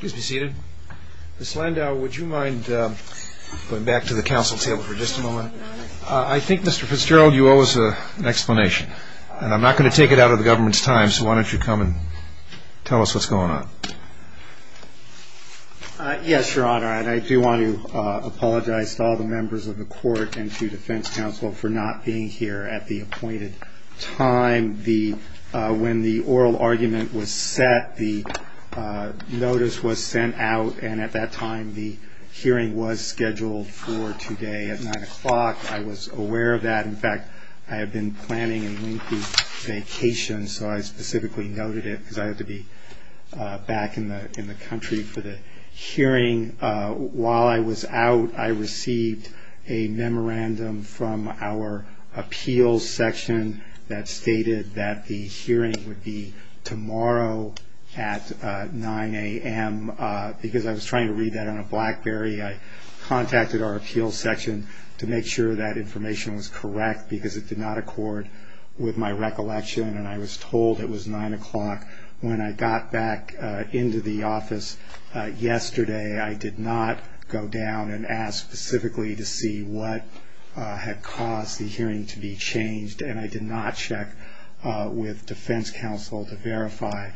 Please be seated. Mr. Landau, would you mind going back to the council table for just a moment? I think, Mr. Fitzgerald, you owe us an explanation, and I'm not going to take it out of the government's time, so why don't you come and tell us what's going on? Yes, Your Honor, and I do want to apologize to all the members of the Court and to Defense Counsel for not being here at the appointed time. When the oral argument was set, the notice was sent out, and at that time the hearing was scheduled for today at 9 o'clock. I was aware of that. In fact, I had been planning a lengthy vacation, so I specifically noted it because I had to be back in the country for the hearing. While I was out, I received a memorandum from our appeals section that stated that the hearing would be tomorrow at 9 a.m. Because I was trying to read that on a BlackBerry, I contacted our appeals section to make sure that information was correct, because it did not accord with my recollection, I did not go down and ask specifically to see what had caused the hearing to be changed, and I did not check with Defense Counsel to verify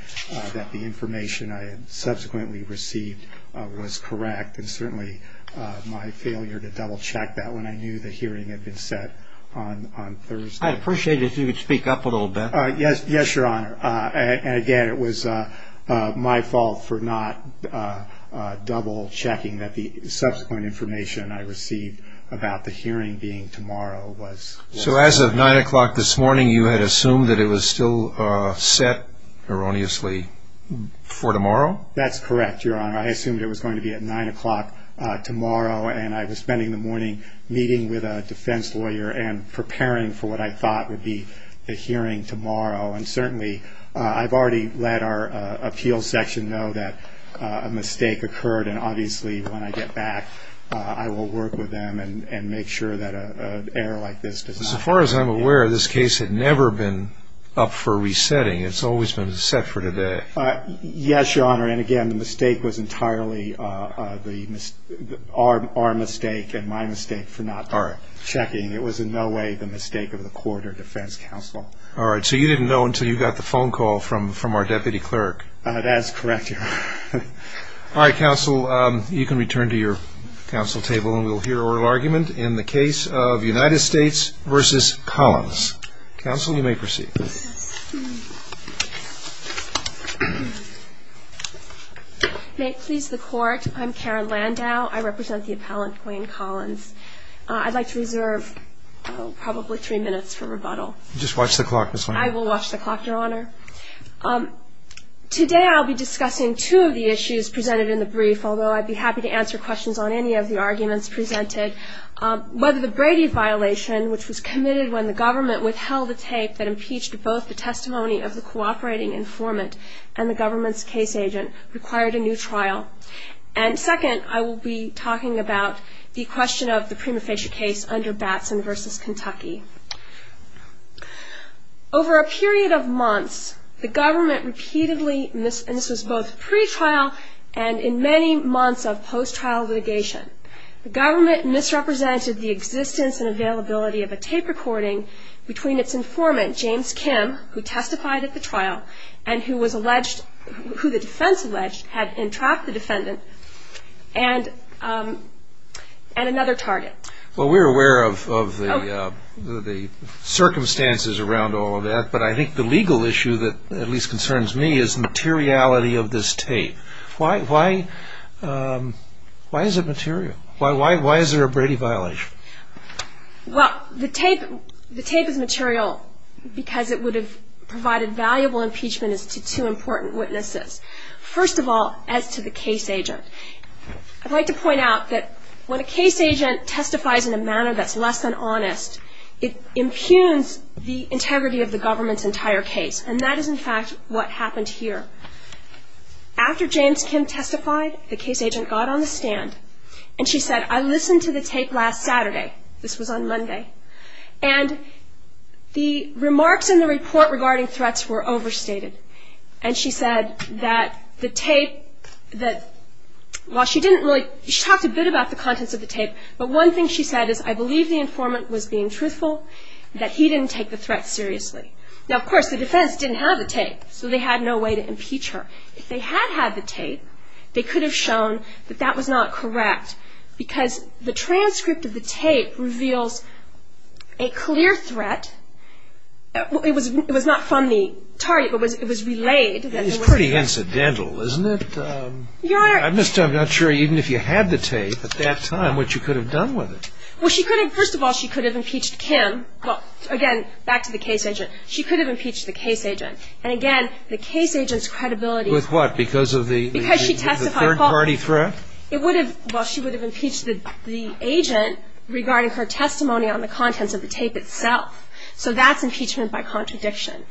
that the information I had subsequently received was correct, and certainly my failure to double-check that when I knew the hearing had been set on Thursday. I'd appreciate it if you could speak up a little bit. Yes, Your Honor. And again, it was my fault for not double-checking that the subsequent information I received about the hearing being tomorrow was correct. So as of 9 o'clock this morning, you had assumed that it was still set, erroneously, for tomorrow? That's correct, Your Honor. I assumed it was going to be at 9 o'clock tomorrow, and I was spending the morning meeting with a defense lawyer to make sure that it was set for tomorrow, and certainly I've already let our appeals section know that a mistake occurred, and obviously when I get back, I will work with them and make sure that an error like this does not occur again. As far as I'm aware, this case had never been up for resetting. It's always been set for today. Yes, Your Honor. And again, the mistake was entirely our mistake and my mistake for not double-checking. It was in no way the mistake of the court or defense counsel. All right. So you didn't know until you got the phone call from our deputy clerk? That's correct, Your Honor. All right, counsel, you can return to your counsel table, and we'll hear oral argument in the case of United States v. Collins. Counsel, you may proceed. May it please the Court, I'm Karen Landau. I represent the appellant, Wayne Collins. I'd like to reserve probably three minutes for rebuttal. Just watch the clock, Ms. Landau. I will watch the clock, Your Honor. Today I'll be discussing two of the issues presented in the brief, although I'd be happy to answer questions on any of the arguments presented. Whether the Brady violation, which was committed when the government withheld the tape that impeached both the testimony of the cooperating informant and the government's case agent, required a new trial. And second, I will be talking about the question of the prima facie case under Batson v. Kentucky. Over a period of months, the government repeatedly, and this was both pretrial and in many months of post-trial litigation, the government misrepresented the existence and availability of a tape recording between its informant, James Kim, who testified at the trial, and who the defense alleged had entrapped the defendant, and another target. Well, we're aware of the circumstances around all of that, but I think the legal issue that at least concerns me is the materiality of this tape. Why is it material? Why is there a Brady violation? Well, the tape is material because it would have provided valuable impeachment as to two important witnesses. First of all, as to the case agent. I'd like to point out that when a case agent testifies in a manner that's less than honest, it impugns the integrity of the government's entire case, and that is, in fact, what happened here. After James Kim testified, the case agent got on the stand, and she said, I listened to the tape last Saturday. This was on Monday, and the remarks in the report regarding threats were overstated, and she said that the tape, that while she didn't really, she talked a bit about the contents of the tape, but one thing she said is, I believe the informant was being truthful, that he didn't take the threat seriously. Now, of course, the defense didn't have the tape, so they had no way to impeach her. If they had had the tape, they could have shown that that was not correct, because the transcript of the tape reveals a clear threat. It was not from the target, but it was relayed. It's pretty incidental, isn't it? Your Honor. I'm just not sure even if you had the tape at that time what you could have done with it. Well, she could have, first of all, she could have impeached Kim. Well, again, back to the case agent. She could have impeached the case agent. And again, the case agent's credibility. With what? Because of the third-party threat? It would have, well, she would have impeached the agent regarding her testimony on the contents of the tape itself. So that's impeachment by contradiction.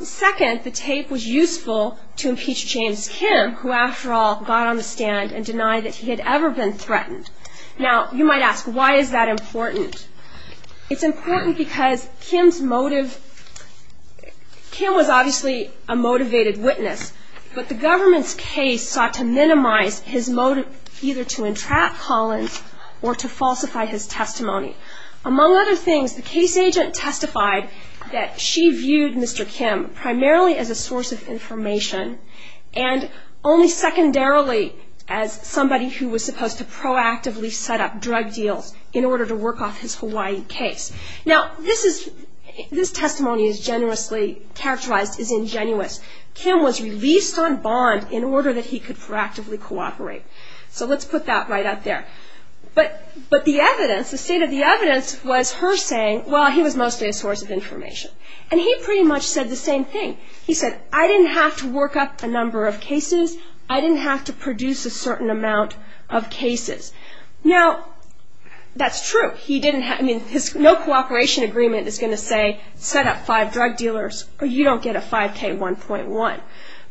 Second, the tape was useful to impeach James Kim, who after all got on the stand and denied that he had ever been threatened. Now, you might ask, why is that important? It's important because Kim's motive, Kim was obviously a motivated witness, but the government's case sought to minimize his motive either to entrap Collins or to falsify his testimony. Among other things, the case agent testified that she viewed Mr. Kim primarily as a source of information and only secondarily as somebody who was supposed to proactively set up drug deals in order to work off his Hawaii case. Now, this testimony is generously characterized as ingenuous. Kim was released on bond in order that he could proactively cooperate. So let's put that right up there. But the evidence, the state of the evidence was her saying, well, he was mostly a source of information. And he pretty much said the same thing. He said, I didn't have to work up a number of cases. I didn't have to produce a certain amount of cases. Now, that's true. I mean, his no cooperation agreement is going to say set up five drug dealers or you don't get a 5K1.1.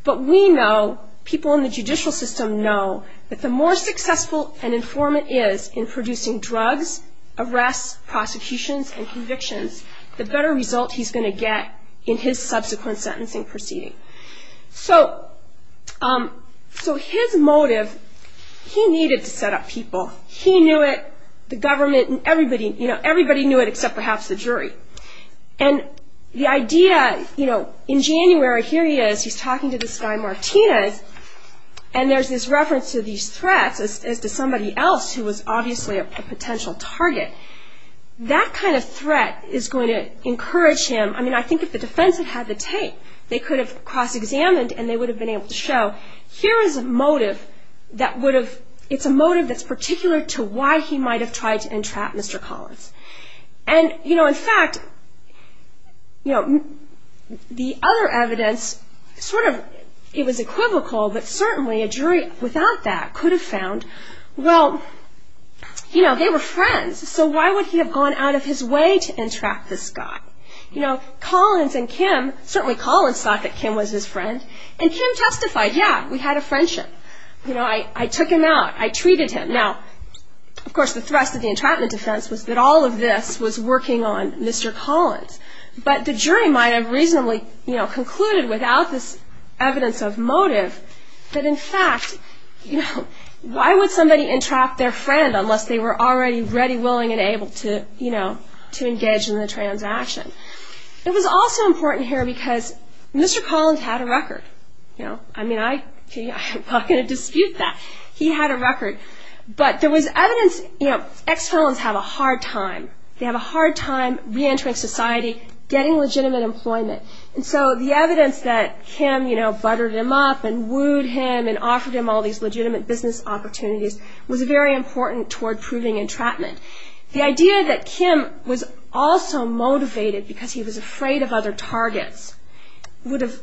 But we know, people in the judicial system know, that the more successful an informant is in producing drugs, arrests, prosecutions, and convictions, the better result he's going to get in his subsequent sentencing proceeding. So his motive, he needed to set up people. He knew it. The government and everybody knew it except perhaps the jury. And the idea, in January, here he is. He's talking to this guy Martinez. And there's this reference to these threats as to somebody else who was obviously a potential target. That kind of threat is going to encourage him. I mean, I think if the defense had had the tape, they could have cross-examined and they would have been able to show, here is a motive that would have, it's a motive that's particular to why he might have tried to entrap Mr. Collins. And, you know, in fact, you know, the other evidence sort of, it was equivocal, but certainly a jury without that could have found, well, you know, they were friends. So why would he have gone out of his way to entrap this guy? You know, Collins and Kim, certainly Collins thought that Kim was his friend. And Kim testified, yeah, we had a friendship. You know, I took him out. I treated him. Now, of course, the thrust of the entrapment defense was that all of this was working on Mr. Collins. But the jury might have reasonably, you know, concluded without this evidence of motive that, in fact, you know, why would somebody entrap their friend unless they were already ready, It was also important here because Mr. Collins had a record. You know, I mean, I'm not going to dispute that. He had a record. But there was evidence, you know, ex-felons have a hard time. They have a hard time reentering society, getting legitimate employment. And so the evidence that Kim, you know, buttered him up and wooed him and offered him all these legitimate business opportunities was very important toward proving entrapment. The idea that Kim was also motivated because he was afraid of other targets would have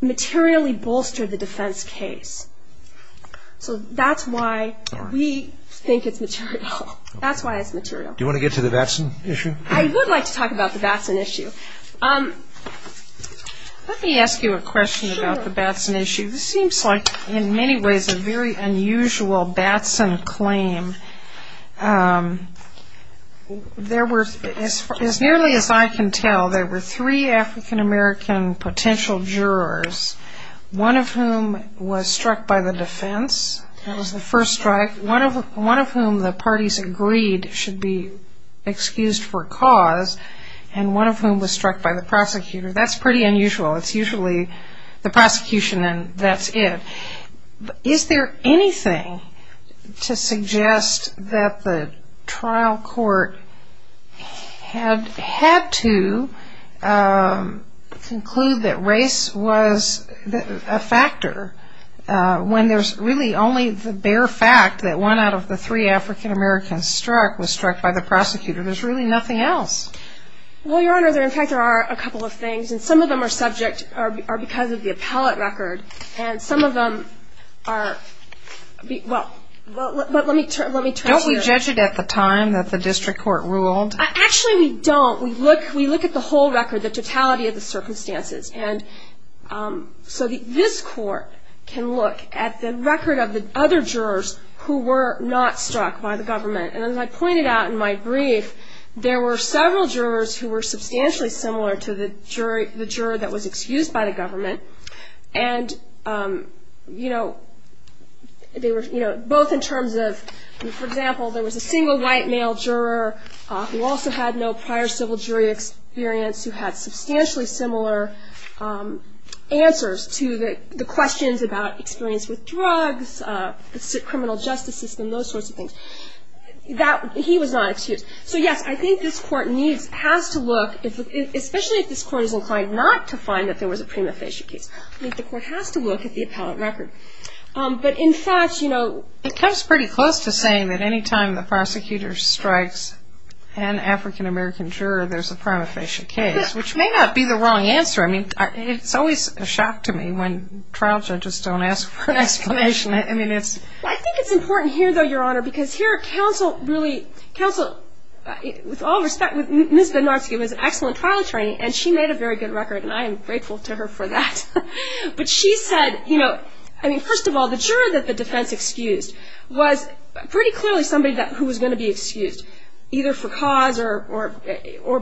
materially bolstered the defense case. So that's why we think it's material. That's why it's material. Do you want to get to the Batson issue? I would like to talk about the Batson issue. Let me ask you a question about the Batson issue. This seems like, in many ways, a very unusual Batson claim. As nearly as I can tell, there were three African-American potential jurors, one of whom was struck by the defense. That was the first strike. One of whom the parties agreed should be excused for cause, and one of whom was struck by the prosecutor. That's pretty unusual. It's usually the prosecution and that's it. Is there anything to suggest that the trial court had to conclude that race was a factor when there's really only the bare fact that one out of the three African-Americans struck was struck by the prosecutor? There's really nothing else. Well, Your Honor, in fact, there are a couple of things, and some of them are subject or because of the appellate record. And some of them are – well, let me turn to your – Don't we judge it at the time that the district court ruled? Actually, we don't. We look at the whole record, the totality of the circumstances. And so this court can look at the record of the other jurors who were not struck by the government. And as I pointed out in my brief, there were several jurors who were substantially similar to the juror that was excused by the government. And both in terms of – for example, there was a single white male juror who also had no prior civil jury experience who had substantially similar answers to the questions about experience with drugs, the criminal justice system, those sorts of things. He was not excused. So, yes, I think this court needs – has to look, especially if this court is inclined not to find that there was a prima facie case, I think the court has to look at the appellate record. But, in fact, you know – It comes pretty close to saying that any time the prosecutor strikes an African-American juror, there's a prima facie case, which may not be the wrong answer. I mean, it's always a shock to me when trial judges don't ask for an exclamation. I mean, it's – Well, I think it's important here, though, Your Honor, because here counsel really – counsel, with all respect, Ms. Bednarski was an excellent trial attorney, and she made a very good record, and I am grateful to her for that. But she said, you know – I mean, first of all, the juror that the defense excused was pretty clearly somebody who was going to be excused, either for cause or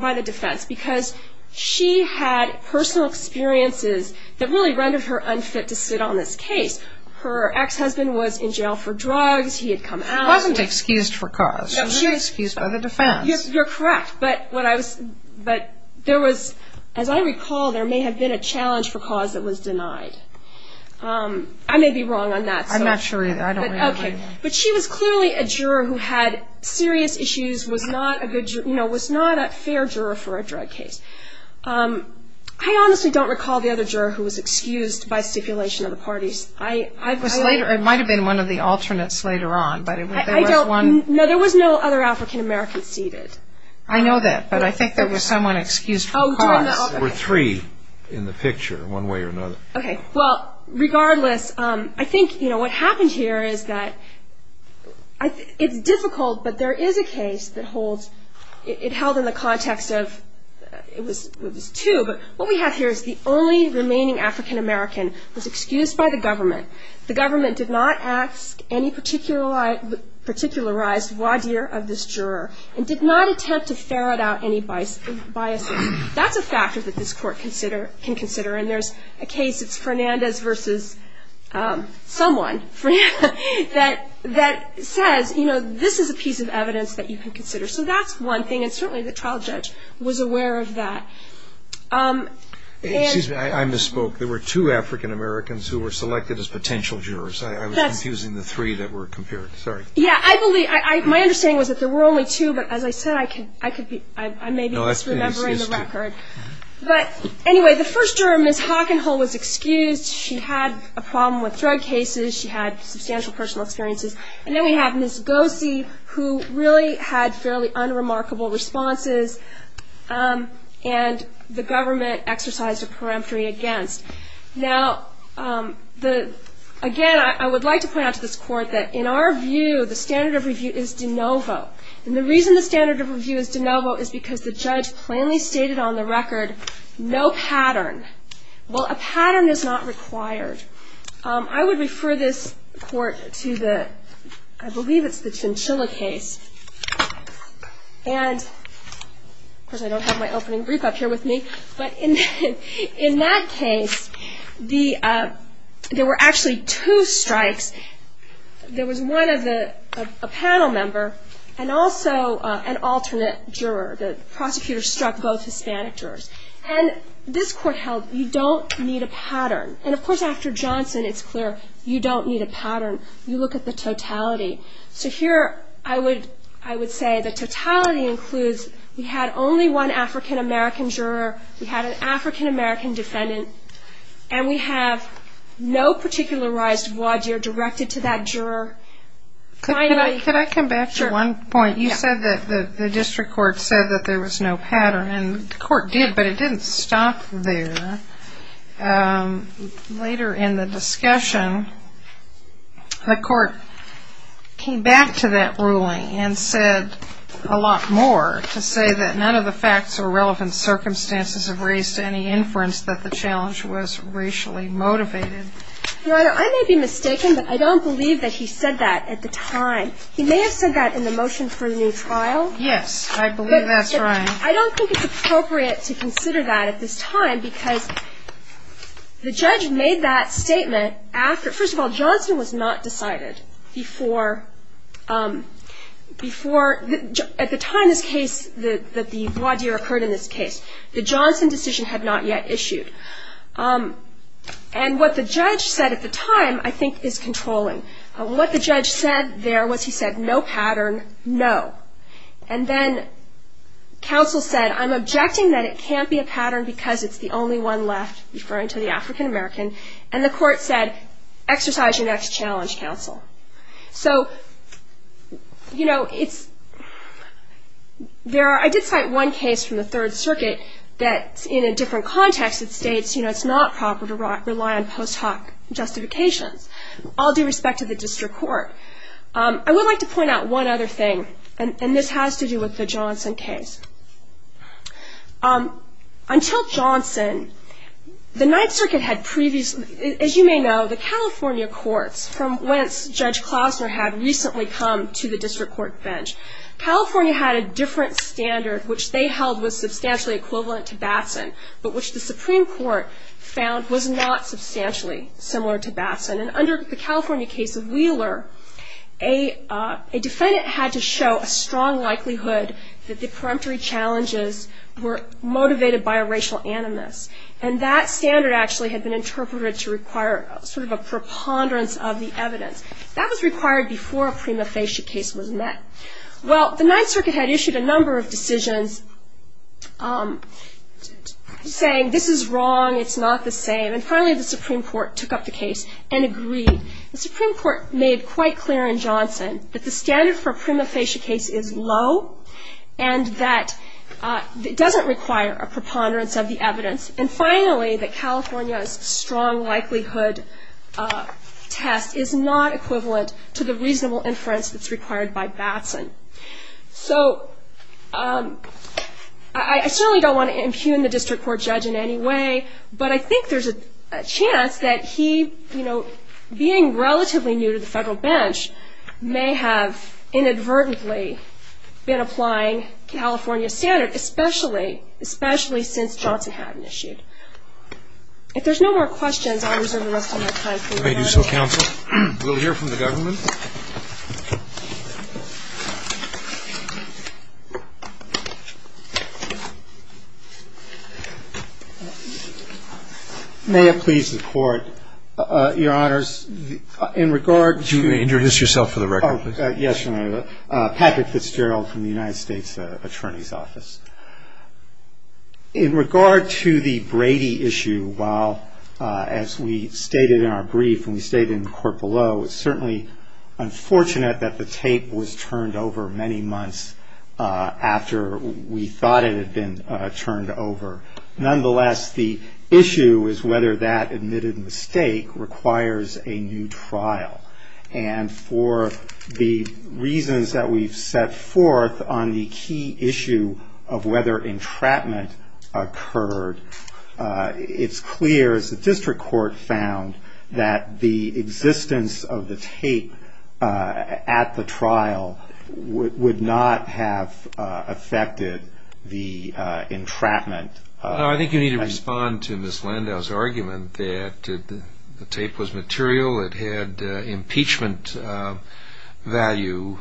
by the defense, because she had personal experiences that really rendered her unfit to sit on this case. Her ex-husband was in jail for drugs. He had come out. He wasn't excused for cause. He was excused by the defense. You're correct. But what I was – but there was – as I recall, there may have been a challenge for cause that was denied. I may be wrong on that. I'm not sure either. I don't really remember. Okay. But she was clearly a juror who had serious issues, was not a good – you know, was not a fair juror for a drug case. I honestly don't recall the other juror who was excused by stipulation of the parties. It might have been one of the alternates later on. No, there was no other African-American seated. I know that, but I think there was someone excused for cause. There were three in the picture, one way or another. Okay. Well, regardless, I think, you know, what happened here is that it's difficult, but there is a case that holds – it held in the context of – it was two, but what we have here is the only remaining African-American was excused by the government. The government did not ask any particularized voir dire of this juror and did not attempt to ferret out any biases. That's a factor that this court can consider, and there's a case – it's Fernandez versus someone that says, you know, this is a piece of evidence that you can consider. So that's one thing, and certainly the trial judge was aware of that. Excuse me. I misspoke. There were two African-Americans who were selected as potential jurors. I was confusing the three that were compared. Sorry. Yeah, I believe – my understanding was that there were only two, but as I said, I could be – I may be misremembering the record. But anyway, the first juror, Ms. Hockenhull, was excused. She had a problem with drug cases. She had substantial personal experiences. And then we have Ms. Gossi, who really had fairly unremarkable responses, and the government exercised a peremptory against. Now, again, I would like to point out to this court that, in our view, the standard of review is de novo. And the reason the standard of review is de novo is because the judge plainly stated on the record, no pattern. Well, a pattern is not required. I would refer this court to the – I believe it's the Chinchilla case. And, of course, I don't have my opening brief up here with me. But in that case, there were actually two strikes. There was one of the – a panel member and also an alternate juror. The prosecutor struck both Hispanic jurors. And this court held you don't need a pattern. And, of course, after Johnson, it's clear you don't need a pattern. You look at the totality. So here I would say the totality includes we had only one African-American juror, we had an African-American defendant, and we have no particularized voir dire directed to that juror. Could I come back to one point? You said that the district court said that there was no pattern. And the court did, but it didn't stop there. Later in the discussion, the court came back to that ruling and said a lot more to say that none of the facts or relevant circumstances have raised any inference that the challenge was racially motivated. Your Honor, I may be mistaken, but I don't believe that he said that at the time. He may have said that in the motion for a new trial. Yes, I believe that's right. I don't think it's appropriate to consider that at this time because the judge made that statement after. First of all, Johnson was not decided before at the time this case, that the voir dire occurred in this case. The Johnson decision had not yet issued. And what the judge said at the time, I think, is controlling. What the judge said there was he said no pattern, no. And then counsel said, I'm objecting that it can't be a pattern because it's the only one left, referring to the African-American. And the court said, exercise your next challenge, counsel. So, you know, it's – there are – I did cite one case from the Third Circuit that's in a different context. It states, you know, it's not proper to rely on post hoc justifications, all due respect to the district court. I would like to point out one other thing, and this has to do with the Johnson case. Until Johnson, the Ninth Circuit had previously – as you may know, the California courts, from whence Judge Klossner had recently come to the district court bench, California had a different standard, which they held was substantially equivalent to Batson, but which the Supreme Court found was not substantially similar to Batson. And under the California case of Wheeler, a defendant had to show a strong likelihood that the preemptory challenges were motivated by a racial animus. And that standard actually had been interpreted to require sort of a preponderance of the evidence. That was required before a prima facie case was met. Well, the Ninth Circuit had issued a number of decisions saying, this is wrong, it's not the same. And finally, the Supreme Court took up the case and agreed. The Supreme Court made quite clear in Johnson that the standard for a prima facie case is low and that it doesn't require a preponderance of the evidence. And finally, that California's strong likelihood test is not equivalent to the reasonable inference that's required by Batson. So I certainly don't want to impugn the district court judge in any way, but I think there's a chance that he, you know, being relatively new to the federal bench, may have inadvertently been applying California's standard, especially since Johnson hadn't issued. If there's no more questions, I'll reserve the rest of my time. If I may do so, counsel. We'll hear from the government. May it please the Court. Your Honors, in regard to Introduce yourself for the record, please. Yes, Your Honor. Patrick Fitzgerald from the United States Attorney's Office. In regard to the Brady issue, while, as we stated in our brief and we stated in the court below, it's certainly unfortunate that the tape was turned over many months after we thought it had been turned over. Nonetheless, the issue is whether that admitted mistake requires a new trial. And for the reasons that we've set forth on the key issue of whether entrapment occurred, it's clear, as the district court found, that the existence of the tape at the trial would not have affected the entrapment. I think you need to respond to Ms. Landau's argument that the tape was material, it had impeachment value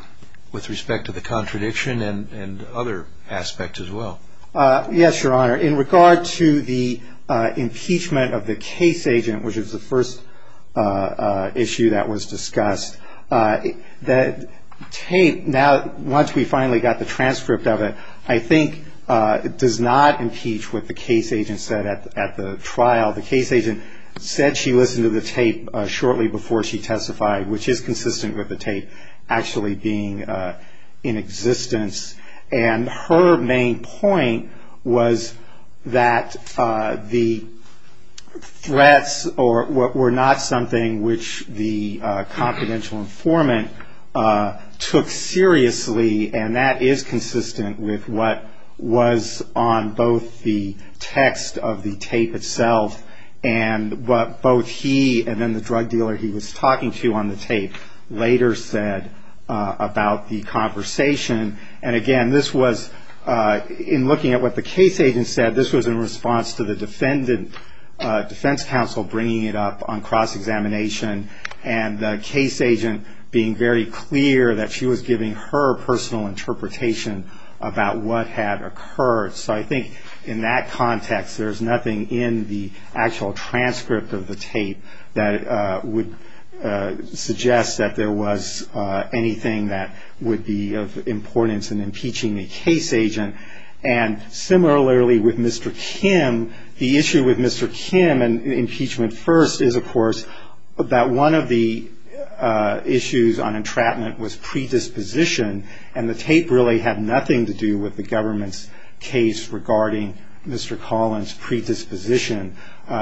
with respect to the contradiction and other aspects as well. Yes, Your Honor. In regard to the impeachment of the case agent, which was the first issue that was discussed, the tape, now once we finally got the transcript of it, I think it does not impeach what the case agent said at the trial. The case agent said she listened to the tape shortly before she testified, which is consistent with the tape actually being in existence. And her main point was that the threats were not something which the confidential informant took seriously, and that is consistent with what was on both the text of the tape itself and what both he and then the drug dealer he was talking to on the tape later said about the conversation. And again, this was, in looking at what the case agent said, this was in response to the defense counsel bringing it up on cross-examination and the case agent being very clear that she was giving her personal interpretation about what had occurred. So I think in that context, there's nothing in the actual transcript of the tape that would suggest that there was anything that would be of importance in impeaching a case agent. And similarly with Mr. Kim, the issue with Mr. Kim and impeachment first is, of course, that one of the issues on entrapment was predisposition, and the tape really had nothing to do with the government's case regarding Mr. Collins' predisposition.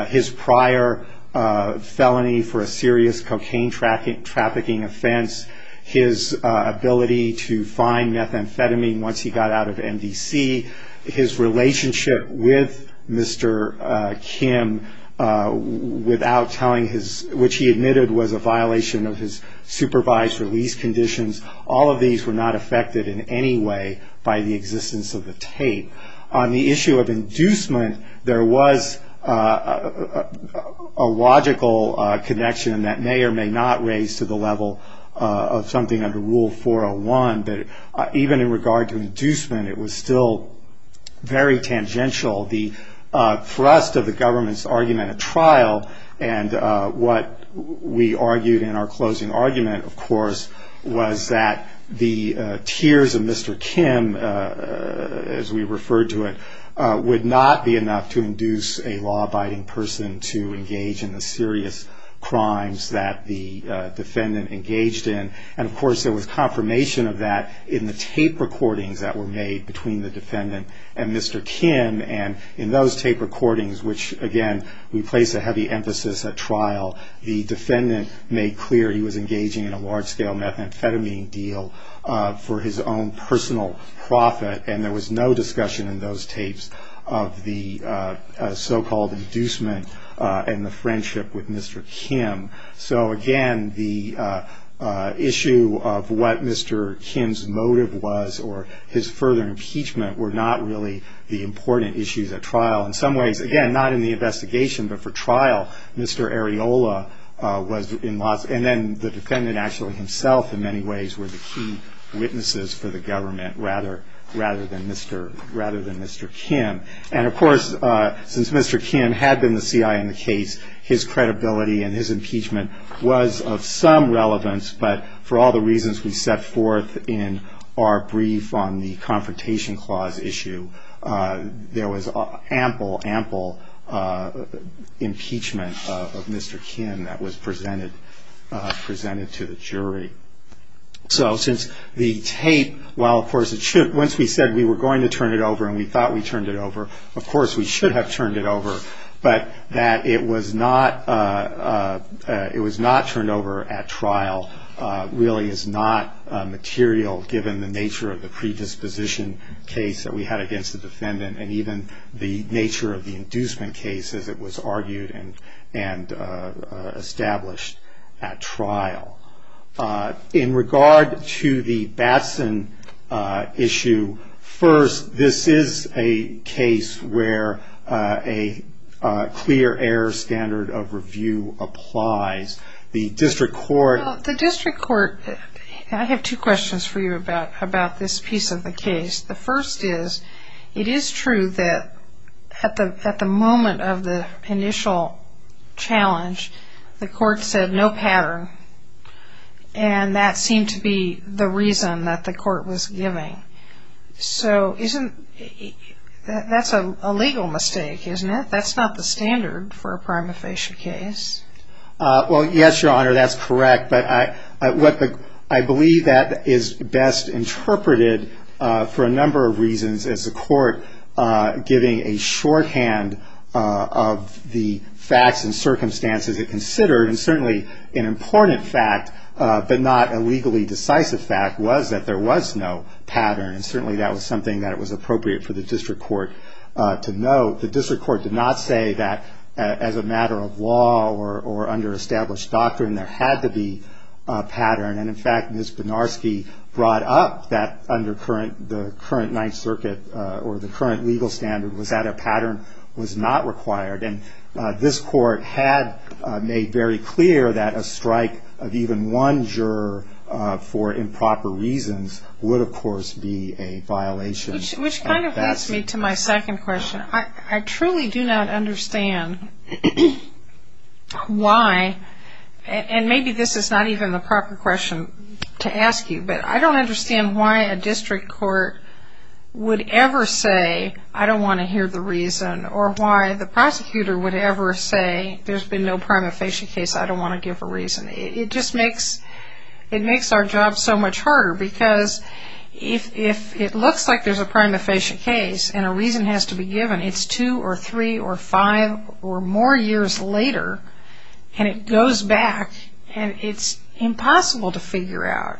His prior felony for a serious cocaine trafficking offense, his ability to find methamphetamine once he got out of MDC, his relationship with Mr. Kim without telling his, which he admitted was a violation of his supervised release conditions, all of these were not affected in any way by the existence of the tape. On the issue of inducement, there was a logical connection that may or may not raise to the level of something under Rule 401, but even in regard to inducement, it was still very tangential. The thrust of the government's argument at trial, and what we argued in our closing argument, of course, was that the tears of Mr. Kim, as we referred to it, would not be enough to induce a law-abiding person to engage in the serious crimes that the defendant engaged in. And, of course, there was confirmation of that in the tape recordings that were made between the defendant and Mr. Kim, and in those tape recordings, which, again, we place a heavy emphasis at trial, the defendant made clear he was engaging in a large-scale methamphetamine deal for his own personal profit, and there was no discussion in those tapes of the so-called inducement and the friendship with Mr. Kim. So, again, the issue of what Mr. Kim's motive was or his further impeachment were not really the important issues at trial. In some ways, again, not in the investigation, but for trial, Mr. Areola was in loss, and then the defendant actually himself in many ways were the key witnesses for the government rather than Mr. Kim. And, of course, since Mr. Kim had been the C.I. in the case, his credibility and his impeachment was of some relevance, but for all the reasons we set forth in our brief on the Confrontation Clause issue, there was ample, ample impeachment of Mr. Kim that was presented to the jury. So since the tape, while, of course, once we said we were going to turn it over and we thought we turned it over, of course we should have turned it over, but that it was not turned over at trial really is not material, given the nature of the predisposition case that we had against the defendant and even the nature of the inducement case as it was argued and established at trial. In regard to the Batson issue, first, this is a case where a clear error standard of review applies. Well, the district court, I have two questions for you about this piece of the case. The first is, it is true that at the moment of the initial challenge, the court said no pattern, and that seemed to be the reason that the court was giving. So that's a legal mistake, isn't it? That's not the standard for a prima facie case. Well, yes, Your Honor, that's correct, but I believe that is best interpreted for a number of reasons, as the court giving a shorthand of the facts and circumstances it considered, and certainly an important fact, but not a legally decisive fact, was that there was no pattern, and certainly that was something that was appropriate for the district court to note. The district court did not say that as a matter of law or under established doctrine there had to be a pattern, and in fact Ms. Benarski brought up that under the current Ninth Circuit or the current legal standard was that a pattern was not required, and this court had made very clear that a strike of even one juror for improper reasons would, of course, be a violation. Which kind of leads me to my second question. I truly do not understand why, and maybe this is not even the proper question to ask you, but I don't understand why a district court would ever say, I don't want to hear the reason, or why the prosecutor would ever say, there's been no prima facie case, I don't want to give a reason. It just makes our job so much harder because if it looks like there's a prima facie case and a reason has to be given, it's two or three or five or more years later, and it goes back and it's impossible to figure out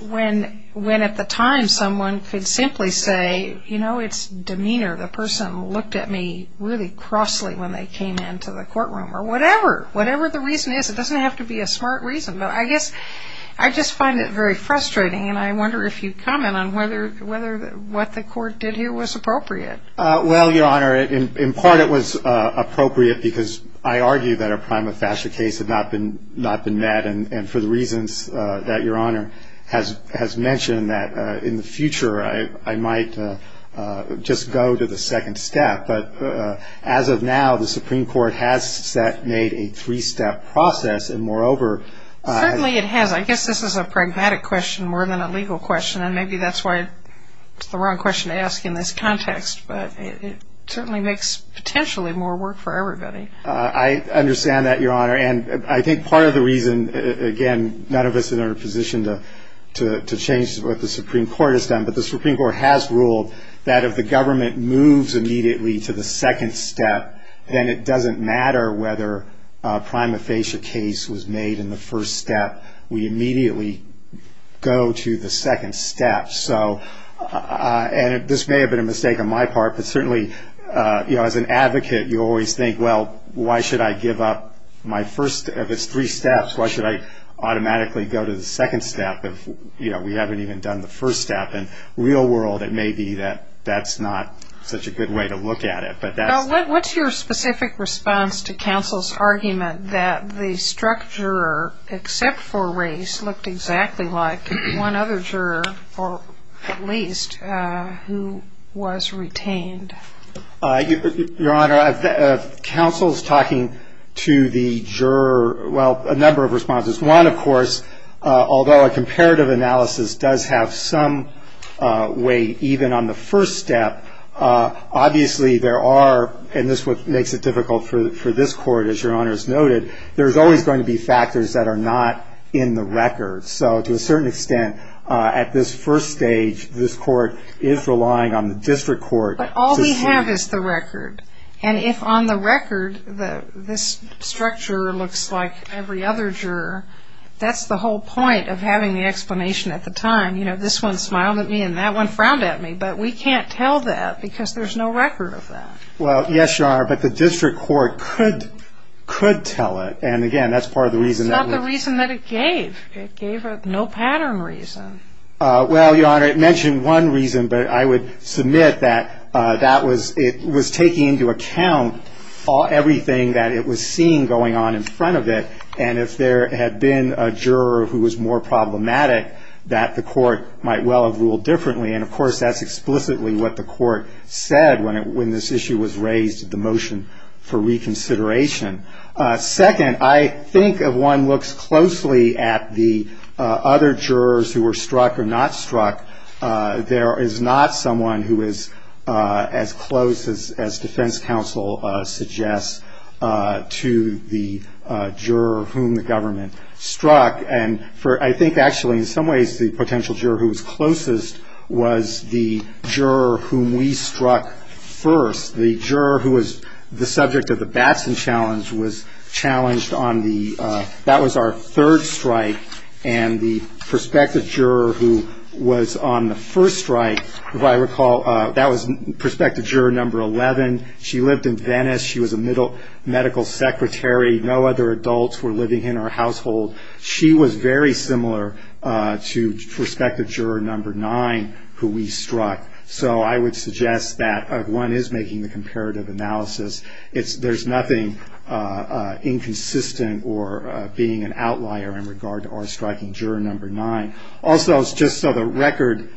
when at the time someone could simply say, you know, it's demeanor, the person looked at me really crossly when they came into the courtroom, or whatever, whatever the reason is. It doesn't have to be a smart reason. But I guess I just find it very frustrating, and I wonder if you'd comment on whether what the court did here was appropriate. Well, Your Honor, in part it was appropriate because I argue that a prima facie case had not been met, and for the reasons that Your Honor has mentioned, that in the future I might just go to the second step. But as of now, the Supreme Court has made a three-step process, and moreover... Certainly it has. I guess this is a pragmatic question more than a legal question, and maybe that's why it's the wrong question to ask in this context, but it certainly makes potentially more work for everybody. I understand that, Your Honor, and I think part of the reason, again, none of us are in a position to change what the Supreme Court has done, but the Supreme Court has ruled that if the government moves immediately to the second step, then it doesn't matter whether a prima facie case was made in the first step. We immediately go to the second step. And this may have been a mistake on my part, but certainly as an advocate you always think, well, why should I give up my first of its three steps? Why should I automatically go to the second step if we haven't even done the first step? In the real world, it may be that that's not such a good way to look at it. What's your specific response to counsel's argument that the struck juror, except for race, looked exactly like one other juror, or at least who was retained? Your Honor, counsel's talking to the juror, well, a number of responses. One, of course, although a comparative analysis does have some weight, even on the first step, obviously there are, and this is what makes it difficult for this Court, as Your Honor has noted, there's always going to be factors that are not in the record. So to a certain extent, at this first stage, this Court is relying on the district court. But all we have is the record. And if on the record this struck juror looks like every other juror, that's the whole point of having the explanation at the time. You know, this one smiled at me and that one frowned at me, but we can't tell that because there's no record of that. Well, yes, Your Honor, but the district court could tell it. And, again, that's part of the reason that we're... It's not the reason that it gave. It gave no pattern reason. Well, Your Honor, it mentioned one reason, but I would submit that it was taking into account everything that it was seeing going on in front of it. And if there had been a juror who was more problematic, that the Court might well have ruled differently. And, of course, that's explicitly what the Court said when this issue was raised, the motion for reconsideration. Second, I think if one looks closely at the other jurors who were struck or not struck, there is not someone who is as close as defense counsel suggests to the juror whom the government struck. And I think, actually, in some ways the potential juror who was closest was the juror whom we struck first. The juror who was the subject of the Batson challenge was challenged on the... If I recall, that was prospective juror number 11. She lived in Venice. She was a medical secretary. No other adults were living in her household. She was very similar to prospective juror number 9 who we struck. So I would suggest that one is making the comparative analysis. There's nothing inconsistent or being an outlier in regard to our striking juror number 9. Also, just so the record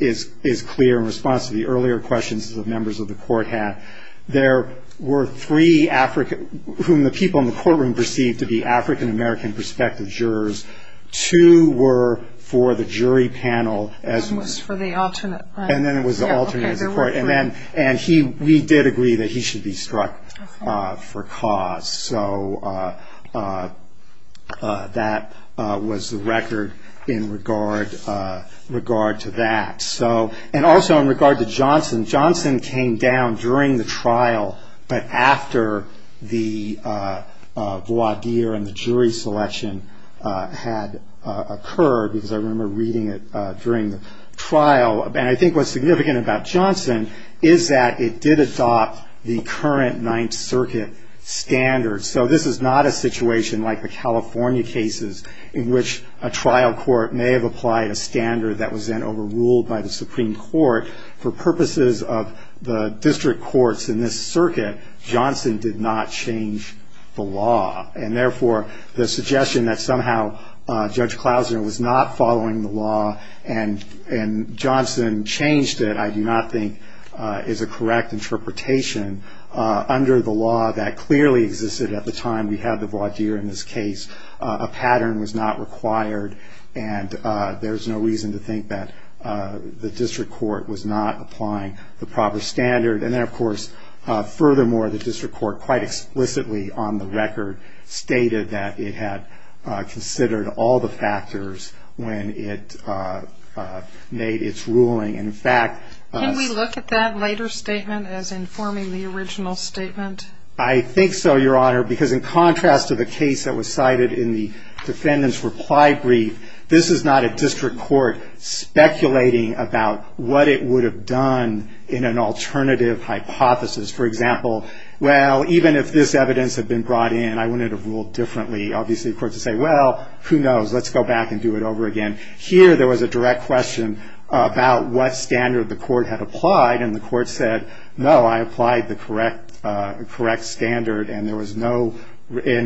is clear in response to the earlier questions the members of the Court had, there were three whom the people in the courtroom perceived to be African-American prospective jurors. Two were for the jury panel. One was for the alternate. And then it was the alternate. And we did agree that he should be struck for cause. So that was the record in regard to that. And also in regard to Johnson. Johnson came down during the trial, but after the voir dire and the jury selection had occurred, because I remember reading it during the trial. And I think what's significant about Johnson is that it did adopt the current Ninth Circuit standards. So this is not a situation like the California cases, in which a trial court may have applied a standard that was then overruled by the Supreme Court. For purposes of the district courts in this circuit, Johnson did not change the law. And therefore, the suggestion that somehow Judge Klausner was not following the law and Johnson changed it I do not think is a correct interpretation. Under the law that clearly existed at the time we had the voir dire in this case, a pattern was not required. And there's no reason to think that the district court was not applying the proper standard. And then, of course, furthermore, the district court quite explicitly on the record stated that it had considered all the factors when it made its ruling. And, in fact- Can we look at that later statement as informing the original statement? I think so, Your Honor, because in contrast to the case that was cited in the defendant's reply brief, this is not a district court speculating about what it would have done in an alternative hypothesis. For example, well, even if this evidence had been brought in, I wouldn't have ruled differently. Obviously, the court would say, well, who knows? Let's go back and do it over again. Here there was a direct question about what standard the court had applied. And the court said, no, I applied the correct standard. And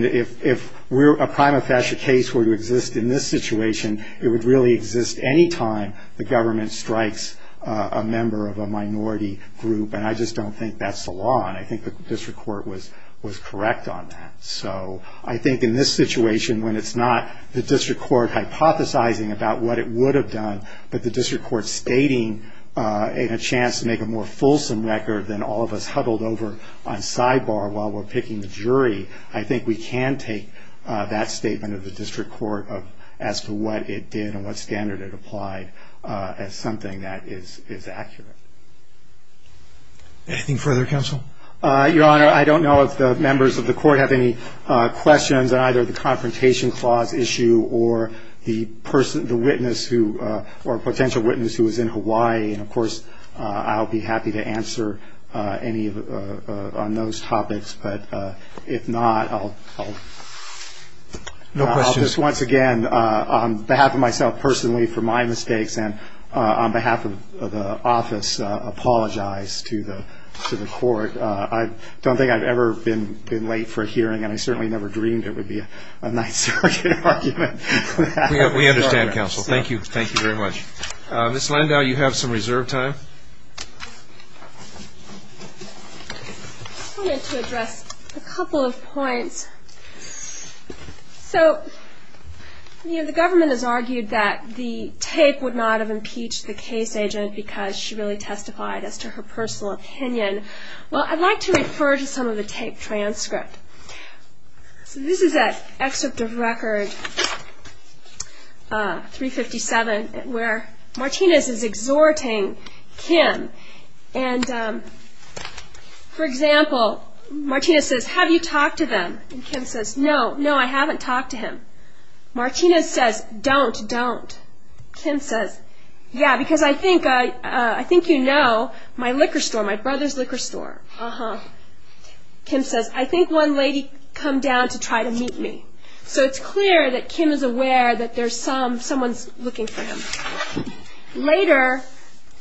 if a prima facie case were to exist in this situation, it would really exist any time the government strikes a member of a minority group. And I just don't think that's the law. And I think the district court was correct on that. So I think in this situation, when it's not the district court hypothesizing about what it would have done, but the district court stating it had a chance to make a more fulsome record than all of us huddled over on sidebar while we're picking the jury, I think we can take that statement of the district court as to what it did and what standard it applied as something that is accurate. Anything further, counsel? Your Honor, I don't know if the members of the court have any questions on either the confrontation clause issue or the witness who or potential witness who was in Hawaii. And, of course, I'll be happy to answer any on those topics. But if not, I'll just once again, on behalf of myself personally for my mistakes and on behalf of the office, apologize to the court. I don't think I've ever been late for a hearing, and I certainly never dreamed it would be a Ninth Circuit argument. We understand, counsel. Thank you. Thank you very much. Ms. Landau, you have some reserve time. I wanted to address a couple of points. So, you know, the government has argued that the tape would not have impeached the case agent because she really testified as to her personal opinion. Well, I'd like to refer to some of the tape transcript. So this is an excerpt of record 357 where Martinez is exhorting Kim. And, for example, Martinez says, have you talked to them? And Kim says, no, no, I haven't talked to him. Martinez says, don't, don't. Kim says, yeah, because I think you know my liquor store, my brother's liquor store. Kim says, I think one lady come down to try to meet me. So it's clear that Kim is aware that there's someone looking for him. Later,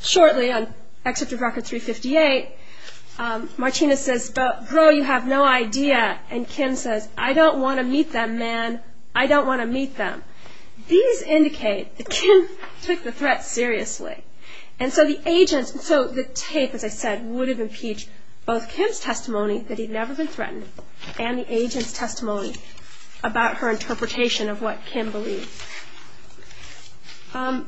shortly, on excerpt of record 358, Martinez says, bro, you have no idea. And Kim says, I don't want to meet them, man. I don't want to meet them. These indicate that Kim took the threat seriously. And so the agents, so the tape, as I said, would have impeached both Kim's testimony that he'd never been threatened and the agent's testimony about her interpretation of what Kim believed. I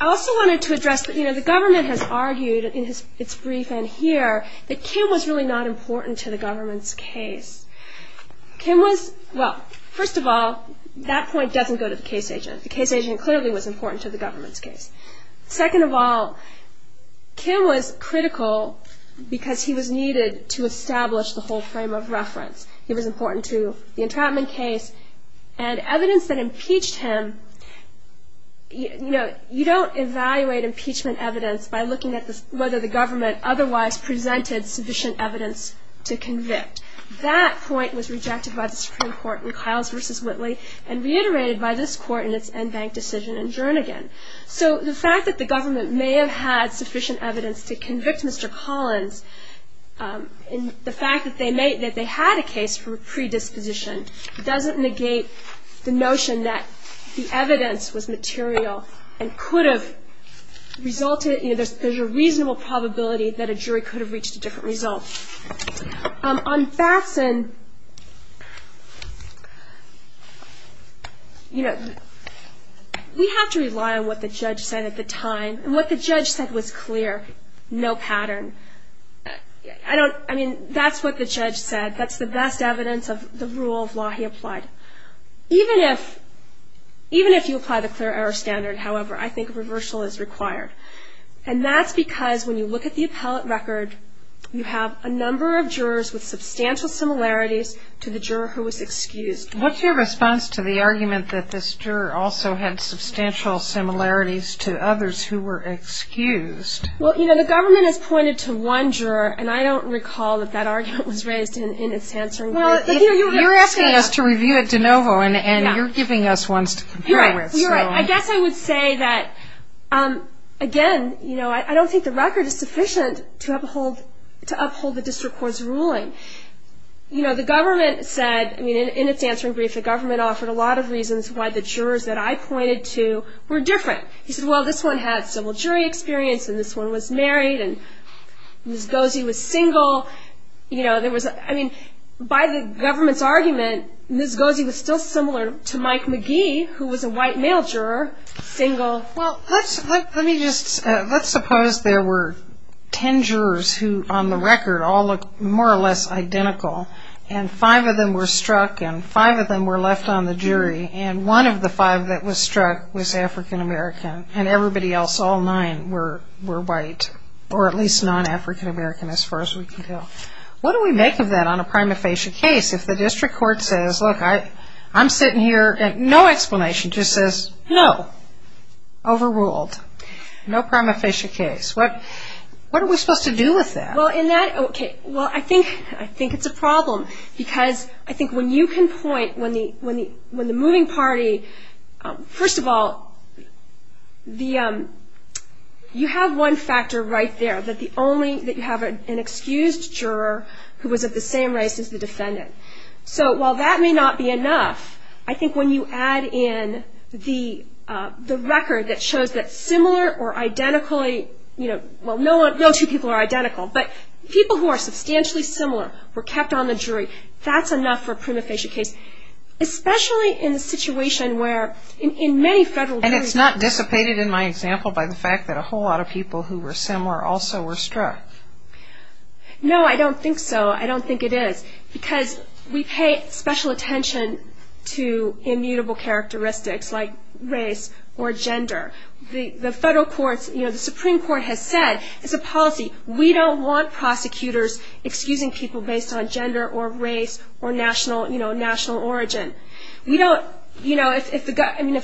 also wanted to address, you know, the government has argued in its brief in here that Kim was really not important to the government's case. Kim was, well, first of all, that point doesn't go to the case agent. The case agent clearly was important to the government's case. Second of all, Kim was critical because he was needed to establish the whole frame of reference. He was important to the entrapment case. And evidence that impeached him, you know, you don't evaluate impeachment evidence by looking at whether the government otherwise presented sufficient evidence to convict. That point was rejected by the Supreme Court in Kyles v. Whitley and reiterated by this court in its en banc decision in Jernigan. So the fact that the government may have had sufficient evidence to convict Mr. Collins and the fact that they had a case for predisposition doesn't negate the notion that the evidence was material and could have resulted, you know, there's a reasonable probability that a jury could have reached a different result. On Fasten, you know, we have to rely on what the judge said at the time. And what the judge said was clear, no pattern. I mean, that's what the judge said. That's the best evidence of the rule of law he applied. Even if you apply the clear error standard, however, I think reversal is required. And that's because when you look at the appellate record, you have a number of jurors with substantial similarities to the juror who was excused. What's your response to the argument that this juror also had substantial similarities to others who were excused? Well, you know, the government has pointed to one juror, and I don't recall that that argument was raised in its answering brief. You're asking us to review it de novo, and you're giving us ones to compare with. You're right. I guess I would say that, again, you know, I don't think the record is sufficient to uphold the district court's ruling. You know, the government said, I mean, in its answering brief, the government offered a lot of reasons why the jurors that I pointed to were different. He said, well, this one had civil jury experience, and this one was married, and Ms. Goese was single. You know, I mean, by the government's argument, Ms. Goese was still similar to Mike McGee, who was a white male juror, single. Well, let's suppose there were ten jurors who, on the record, all looked more or less identical, and five of them were struck, and five of them were left on the jury, and one of the five that was struck was African-American, and everybody else, all nine, were white, or at least non-African-American, as far as we can tell. What do we make of that on a prima facie case if the district court says, look, I'm sitting here, and no explanation. It just says, no, overruled, no prima facie case. What are we supposed to do with that? Well, in that, okay, well, I think it's a problem, because I think when you can point, when the moving party, first of all, you have one factor right there, that you have an excused juror who was of the same race as the defendant. So while that may not be enough, I think when you add in the record that shows that similar or identically, you know, well, no two people are identical, but people who are substantially similar were kept on the jury, that's enough for a prima facie case, especially in the situation where, in many federal juries. And it's not dissipated in my example by the fact that a whole lot of people who were similar also were struck. No, I don't think so. I don't think it is, because we pay special attention to immutable characteristics like race or gender. The federal courts, you know, the Supreme Court has said as a policy, we don't want prosecutors excusing people based on gender or race or national origin. We don't, you know, if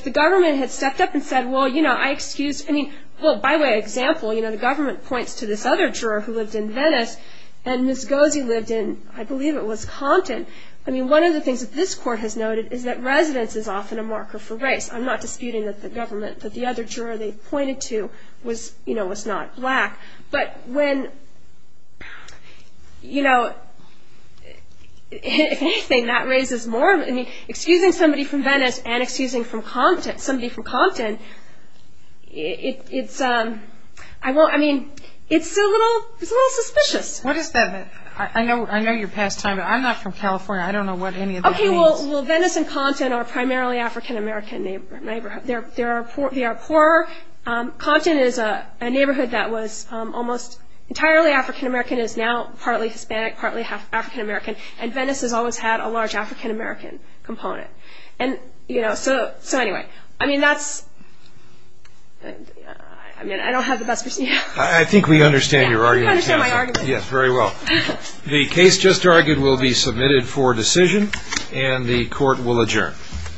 the government had stepped up and said, well, you know, I excuse, I mean, well, by way of example, you know, the government points to this other juror who lived in Venice, and Ms. Goese lived in, I believe it was Compton. I mean, one of the things that this court has noted is that residence is often a marker for race. I'm not disputing that the government, that the other juror they pointed to was, you know, was not black. But when, you know, if anything, that raises more, I mean, excusing somebody from Venice and excusing from Compton, somebody from Compton, it's, I mean, it's a little suspicious. What is that? I know you're past time, but I'm not from California. I don't know what any of this means. Okay, well, Venice and Compton are primarily African-American neighborhoods. They are poorer. Compton is a neighborhood that was almost entirely African-American. It is now partly Hispanic, partly African-American. And Venice has always had a large African-American component. And, you know, so anyway, I mean, that's, I mean, I don't have the best. I think we understand your argument. I understand my argument. Yes, very well. The case just argued will be submitted for decision, and the court will adjourn.